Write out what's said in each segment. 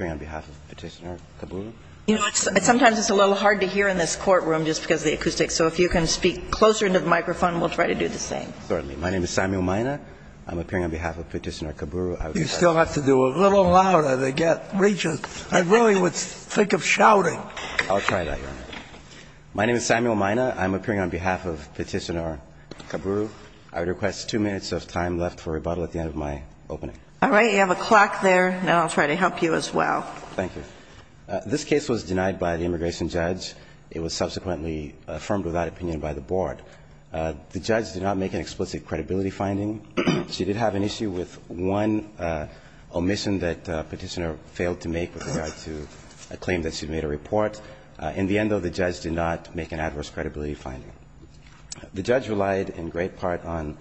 on behalf of Petitioner-Kaburu, I would request two minutes of time for questions. We have time left for rebuttal at the end of my opening. All right, you have a clock there, and I'll try to help you as well. Thank you. This case was denied by the immigration judge. It was subsequently affirmed without opinion by the board. The judge did not make an explicit credibility finding. She did have an issue with one omission that Petitioner failed to make with regard to a claim that she made a report. In the end, though, the judge did not make an adverse credibility finding. The judge relied in great part on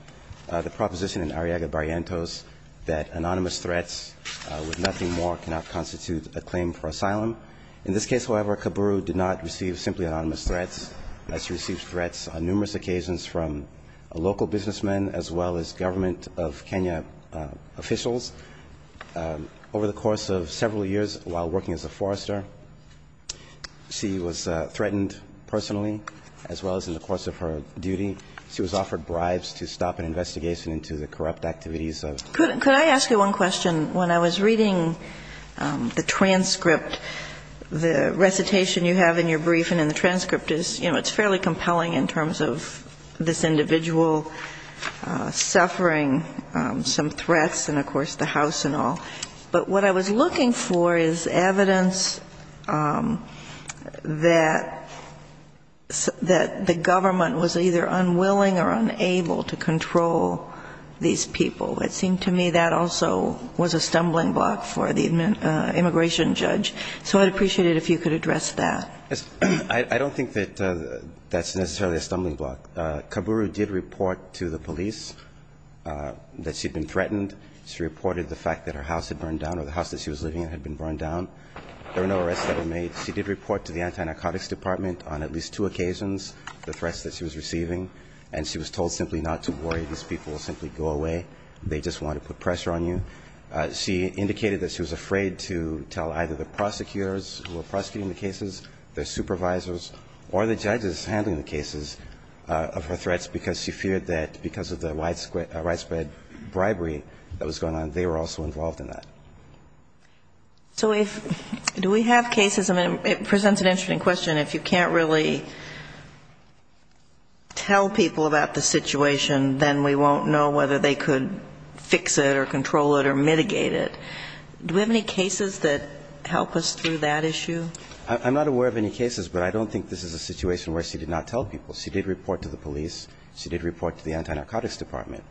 the proposition in Arriaga-Barrientos that anonymous threats with nothing more cannot constitute a claim for asylum. In this case, however, Kaburu did not receive simply anonymous threats. She received threats on numerous occasions from local businessmen as well as government of Kenya officials. Over the course of several years while working as a forester, she was threatened personally as well as in the course of her duty. She was offered bribes to stop an investigation into the corrupt activities of her. Could I ask you one question? When I was reading the transcript, the recitation you have in your brief and in the transcript is, you know, it's fairly compelling in terms of this individual suffering some threats and, of course, the house and all. But what I was looking for is evidence that the government was either unwilling or unable to control these people. It seemed to me that also was a stumbling block for the immigration judge. So I'd appreciate it if you could address that. I don't think that that's necessarily a stumbling block. Kaburu did report to the police that she'd been threatened. She reported the fact that her house had burned down or the house that she was living in had been burned down. There were no arrests that were made. She did report to the anti-narcotics department on at least two occasions the threats that she was receiving, and she was told simply not to worry. These people will simply go away. They just want to put pressure on you. She indicated that she was afraid to tell either the prosecutors who were prosecuting the cases, their supervisors or the judges handling the cases of her threats because she feared that because of the widespread bribery, that was going on, they were also involved in that. So if do we have cases? I mean, it presents an interesting question. If you can't really tell people about the situation, then we won't know whether they could fix it or control it or mitigate it. Do we have any cases that help us through that issue? I'm not aware of any cases, but I don't think this is a situation where she did not tell people. She did report to the police. She did report to the anti-narcotics department.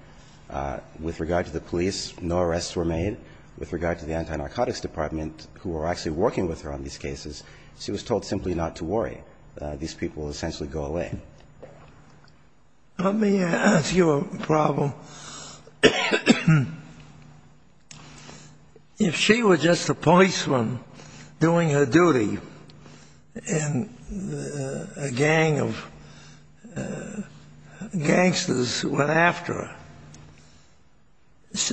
With regard to the police, no arrests were made. With regard to the anti-narcotics department who were actually working with her on these cases, she was told simply not to worry. These people essentially go away. Let me ask you a problem. If she were just a policeman doing her duty and a gang of gangsters went after her,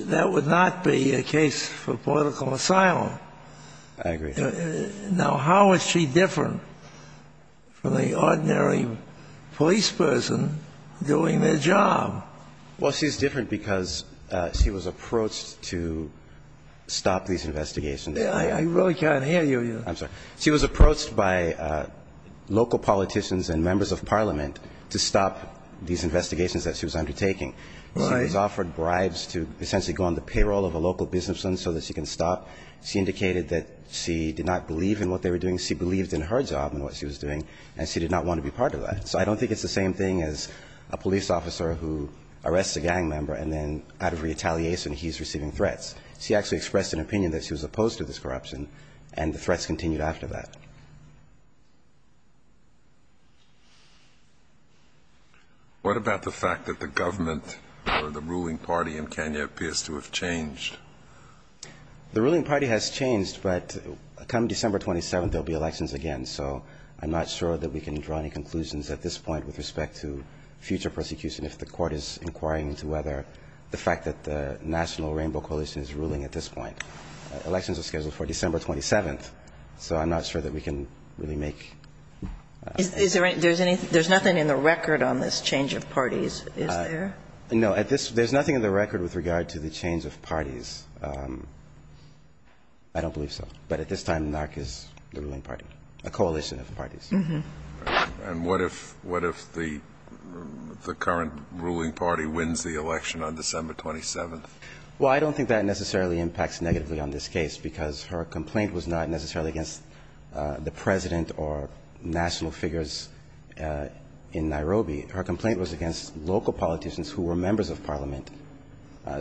that would not be a case for political asylum. I agree. Now, how is she different from the ordinary police person doing their job? Well, she's different because she was approached to stop these investigations. I really can't hear you. I'm sorry. She was approached by local politicians and members of parliament to stop these investigations that she was undertaking. Right. She was offered bribes to essentially go on the payroll of a local businessman so that she can stop. She indicated that she did not believe in what they were doing. She believed in her job and what she was doing, and she did not want to be part of that. So I don't think it's the same thing as a police officer who arrests a gang member and then out of retaliation he's receiving threats. She actually expressed an opinion that she was opposed to this corruption, and the threats continued after that. What about the fact that the government or the ruling party in Kenya appears to have changed? The ruling party has changed, but come December 27th, there will be elections again. So I'm not sure that we can draw any conclusions at this point with respect to future prosecution if the Court is inquiring into whether the fact that the National Rainbow Coalition is ruling at this point. Elections are scheduled for December 27th, so I'm not sure that we can really make ---- There's nothing in the record on this change of parties, is there? No. There's nothing in the record with regard to the change of parties. I don't believe so. But at this time, NARC is the ruling party, a coalition of parties. And what if the current ruling party wins the election on December 27th? Well, I don't think that necessarily impacts negatively on this case, because her complaint was not necessarily against the president or national figures in Nairobi. Her complaint was against local politicians who were members of parliament.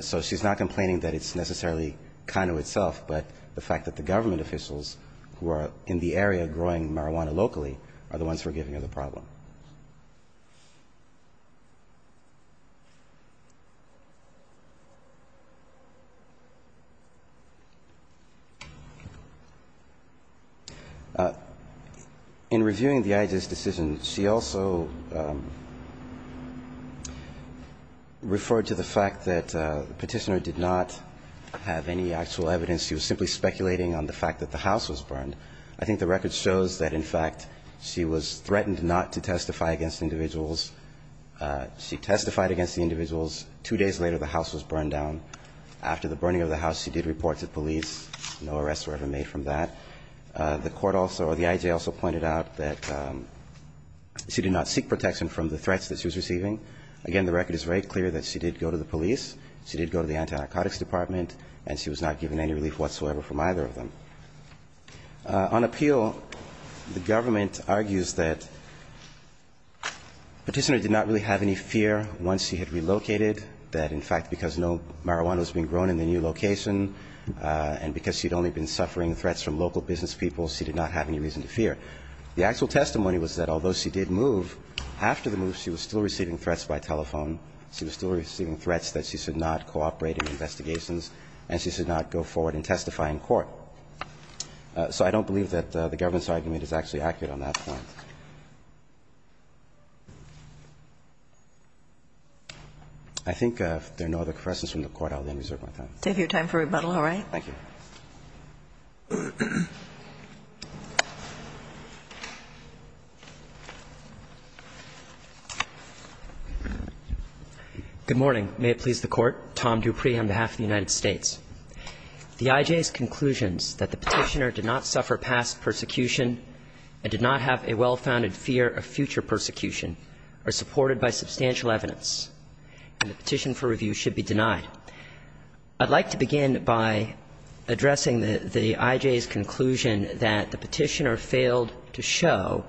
So she's not complaining that it's necessarily Kano itself, but the fact that the government officials who are in the area growing marijuana locally are the ones who are giving her the problem. In reviewing the IGES decision, she also referred to the fact that the Petitioner did not have any actual evidence. She was simply speculating on the fact that the house was burned. I think the record shows that, in fact, she was threatened not to testify, and she was threatened not to testify. She testified against the individuals. Two days later, the house was burned down. After the burning of the house, she did report to police. No arrests were ever made from that. The court also or the IGES also pointed out that she did not seek protection from the threats that she was receiving. Again, the record is very clear that she did go to the police, she did go to the anti-narcotics department, and she was not given any relief whatsoever from either of them. On appeal, the government argues that Petitioner did not really have any fear once she had relocated, that, in fact, because no marijuana was being grown in the new location and because she'd only been suffering threats from local business people, she did not have any reason to fear. The actual testimony was that although she did move, after the move she was still receiving threats by telephone, she was still receiving threats that she should not cooperate in investigations and she should not go forward in testifying in court. So I don't believe that the government's argument is actually accurate on that point. I think if there are no other questions from the Court, I'll then reserve my time. Take your time for rebuttal, all right? Thank you. Good morning. May it please the Court. Tom Dupree on behalf of the United States. The I.J.'s conclusions that the Petitioner did not suffer past persecution and did not have a well-founded fear of future persecution are supported by substantial evidence, and the petition for review should be denied. I'd like to begin by addressing the I.J.'s conclusion that the Petitioner failed to show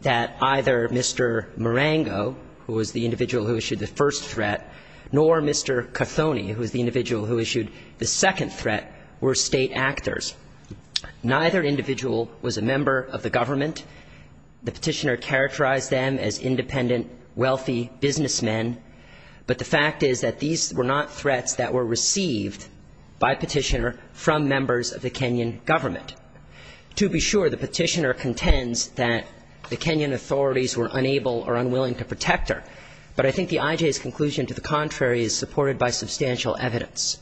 that either Mr. Marengo, who was the individual who issued the first threat, nor Mr. Kothony, who was the individual who issued the second threat, were state actors. Neither individual was a member of the government. The Petitioner characterized them as independent, wealthy businessmen, but the fact is that these were not threats that were received by Petitioner from members of the Kenyan government. To be sure, the Petitioner contends that the Kenyan authorities were unable or unwilling to protect her. But I think the I.J.'s conclusion to the contrary is supported by substantial evidence.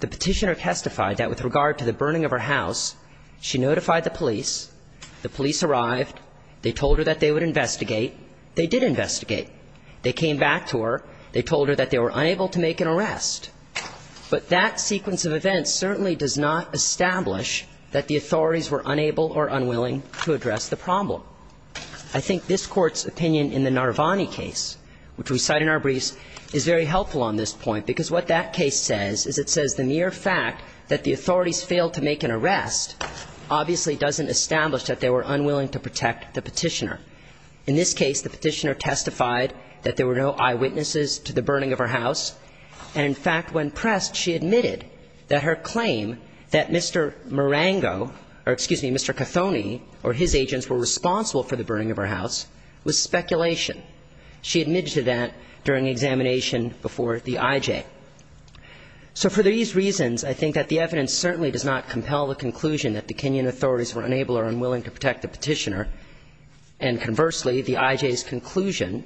The Petitioner testified that with regard to the burning of her house, she notified the police. The police arrived. They told her that they would investigate. They did investigate. They came back to her. They told her that they were unable to make an arrest. But that sequence of events certainly does not establish that the authorities were unable or unwilling to address the problem. I think this Court's opinion in the Narvani case, which we cite in our briefs, is very helpful on this point, because what that case says is it says the mere fact that the authorities failed to make an arrest obviously doesn't establish that they were unwilling to protect the Petitioner. In this case, the Petitioner testified that there were no eyewitnesses to the burning of her house. And, in fact, when pressed, she admitted that her claim that Mr. Marango or, excuse me, the person responsible for the burning of her house was speculation. She admitted to that during examination before the IJ. So for these reasons, I think that the evidence certainly does not compel the conclusion that the Kenyan authorities were unable or unwilling to protect the Petitioner. And, conversely, the IJ's conclusion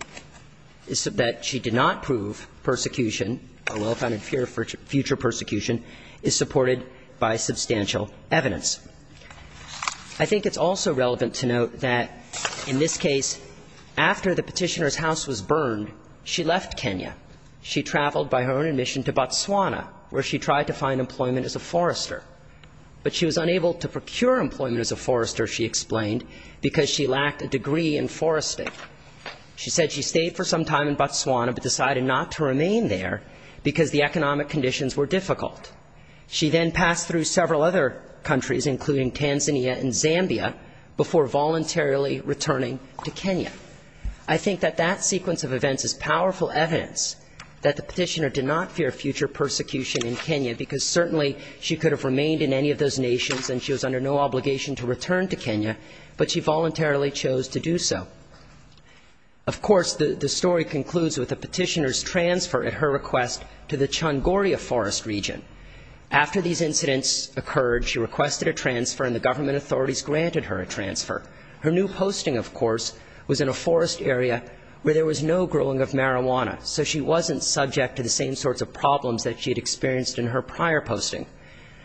is that she did not prove persecution or well-founded fear for future persecution is supported by substantial evidence. I think it's also relevant to note that, in this case, after the Petitioner's house was burned, she left Kenya. She traveled by her own admission to Botswana, where she tried to find employment as a forester. But she was unable to procure employment as a forester, she explained, because she lacked a degree in forestry. She said she stayed for some time in Botswana but decided not to remain there because the economic conditions were difficult. She then passed through several other countries, including Tanzania and Zambia, before voluntarily returning to Kenya. I think that that sequence of events is powerful evidence that the Petitioner did not fear future persecution in Kenya, because certainly she could have remained in any of those nations and she was under no obligation to return to Kenya, but she voluntarily chose to do so. Of course, the story concludes with the Petitioner's transfer, at her request, to the Changoria forest region. After these incidents occurred, she requested a transfer and the government authorities granted her a transfer. Her new posting, of course, was in a forest area where there was no growing of marijuana, so she wasn't subject to the same sorts of problems that she had experienced in her prior posting.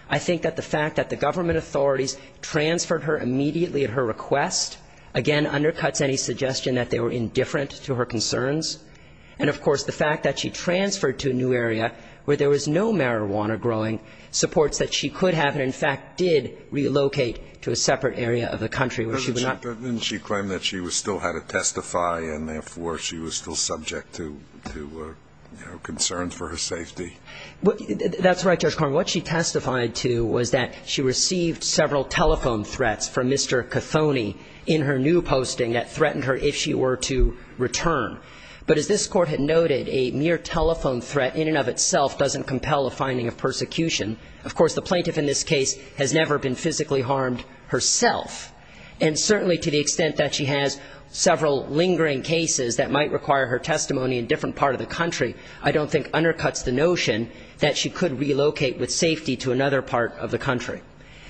I think that the fact that the government authorities transferred her immediately at her request, again, undercuts any suggestion that they were indifferent to her concerns. And, of course, the fact that she transferred to a new area where there was no marijuana growing supports that she could have and, in fact, did relocate to a separate area of the country where she would not be. But didn't she claim that she still had to testify and, therefore, she was still subject to, you know, concerns for her safety? That's right, Judge Carman. What she testified to was that she received several telephone threats from Mr. Cathony in her new posting that threatened her if she were to return. But as this Court had noted, a mere telephone threat in and of itself doesn't compel a finding of persecution. Of course, the plaintiff in this case has never been physically harmed herself. And certainly to the extent that she has several lingering cases that might require her testimony in different parts of the country, I don't think undercuts the notion that she could relocate with safety to another part of the country.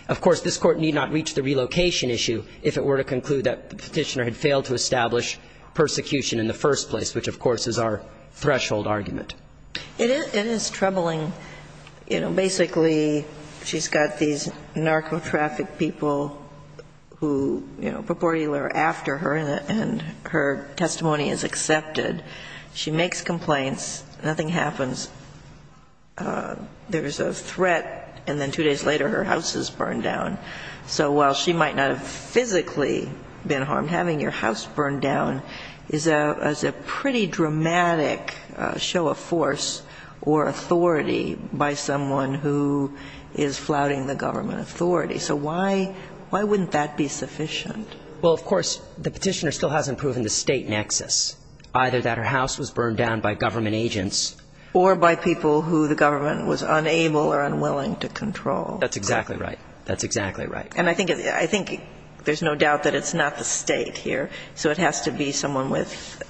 Of course, this Court need not reach the relocation issue if it were to conclude that the Petitioner had failed to establish persecution in the first place, which, of course, is our threshold argument. It is troubling. You know, basically, she's got these narcotraffic people who, you know, purportedly were after her, and her testimony is accepted. She makes complaints. Nothing happens. There's a threat, and then two days later her house is burned down. So while she might not have physically been harmed, having your house burned down is a pretty dramatic show of force or authority by someone who is flouting the government authority. So why wouldn't that be sufficient? Well, of course, the Petitioner still hasn't proven the State nexus, either that her house was burned down by government agents. Or by people who the government was unable or unwilling to control. That's exactly right. And I think there's no doubt that it's not the State here, so it has to be someone with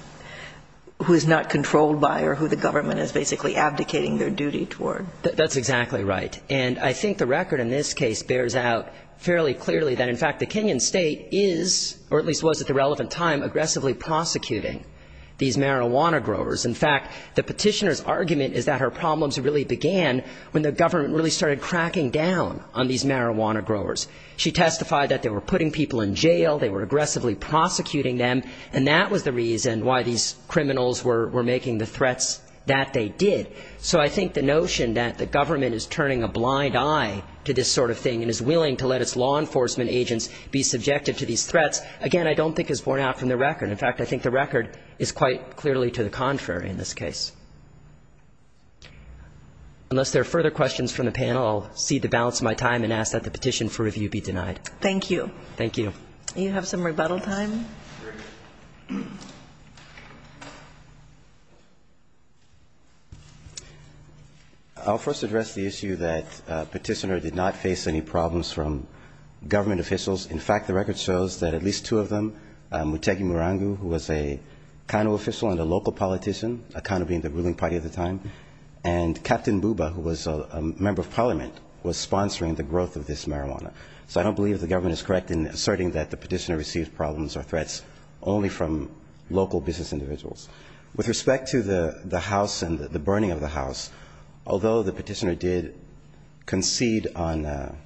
who is not controlled by or who the government is basically abdicating their duty toward. That's exactly right. And I think the record in this case bears out fairly clearly that, in fact, the Kenyan State is, or at least was at the relevant time, aggressively prosecuting these marijuana growers. In fact, the Petitioner's argument is that her problems really began when the government really started cracking down on these marijuana growers. She testified that they were putting people in jail, they were aggressively prosecuting them, and that was the reason why these criminals were making the threats that they did. So I think the notion that the government is turning a blind eye to this sort of thing and is willing to let its law enforcement agents be subjective to these threats, again, I don't think is borne out from the record. In fact, I think the record is quite clearly to the contrary in this case. Unless there are further questions from the panel, I'll cede the balance of my time and ask that the petition for review be denied. Thank you. Thank you. Do you have some rebuttal time? I'll first address the issue that Petitioner did not face any problems from government officials. In fact, the record shows that at least two of them, Muteki Murangu, who was a ruling party at the time, and Captain Buba, who was a member of parliament, was sponsoring the growth of this marijuana. So I don't believe the government is correct in asserting that the Petitioner received problems or threats only from local business individuals. With respect to the house and the burning of the house, although the Petitioner did concede on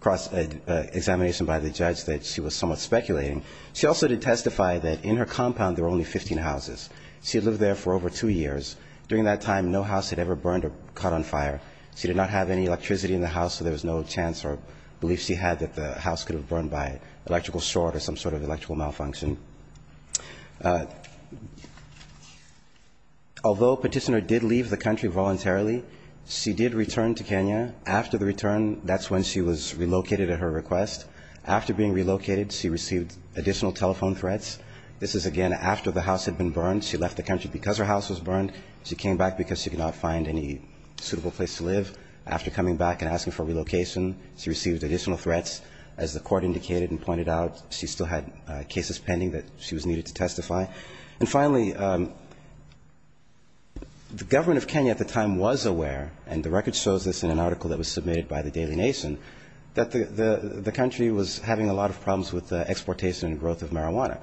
cross-examination by the judge that she was somewhat speculating, she also did testify that in her compound there were only 15 houses. She had lived there for over two years. During that time, no house had ever burned or caught on fire. She did not have any electricity in the house, so there was no chance or belief she had that the house could have burned by electrical short or some sort of electrical malfunction. Although Petitioner did leave the country voluntarily, she did return to Kenya. After the return, that's when she was relocated at her request. After being relocated, she received additional telephone threats. This is, again, after the house had been burned. She left the country because her house was burned. She came back because she could not find any suitable place to live. After coming back and asking for relocation, she received additional threats. As the court indicated and pointed out, she still had cases pending that she was needed to testify. And finally, the government of Kenya at the time was aware, and the record shows this in an article that was submitted by the Daily Nation, that the country was having a lot of problems with the exportation and growth of marijuana.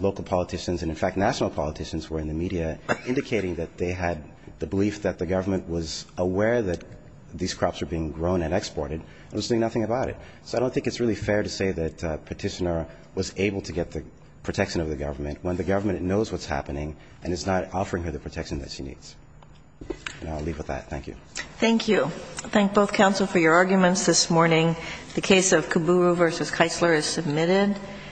Local politicians and, in fact, national politicians were in the media indicating that they had the belief that the government was aware that these crops were being grown and exported and was doing nothing about it. So I don't think it's really fair to say that Petitioner was able to get the protection of the government when the government knows what's happening and is not offering her the protection that she needs. And I'll leave with that. Thank you. Thank you. I thank both counsel for your arguments this morning. The case of Kaburu v. Kaisler is submitted.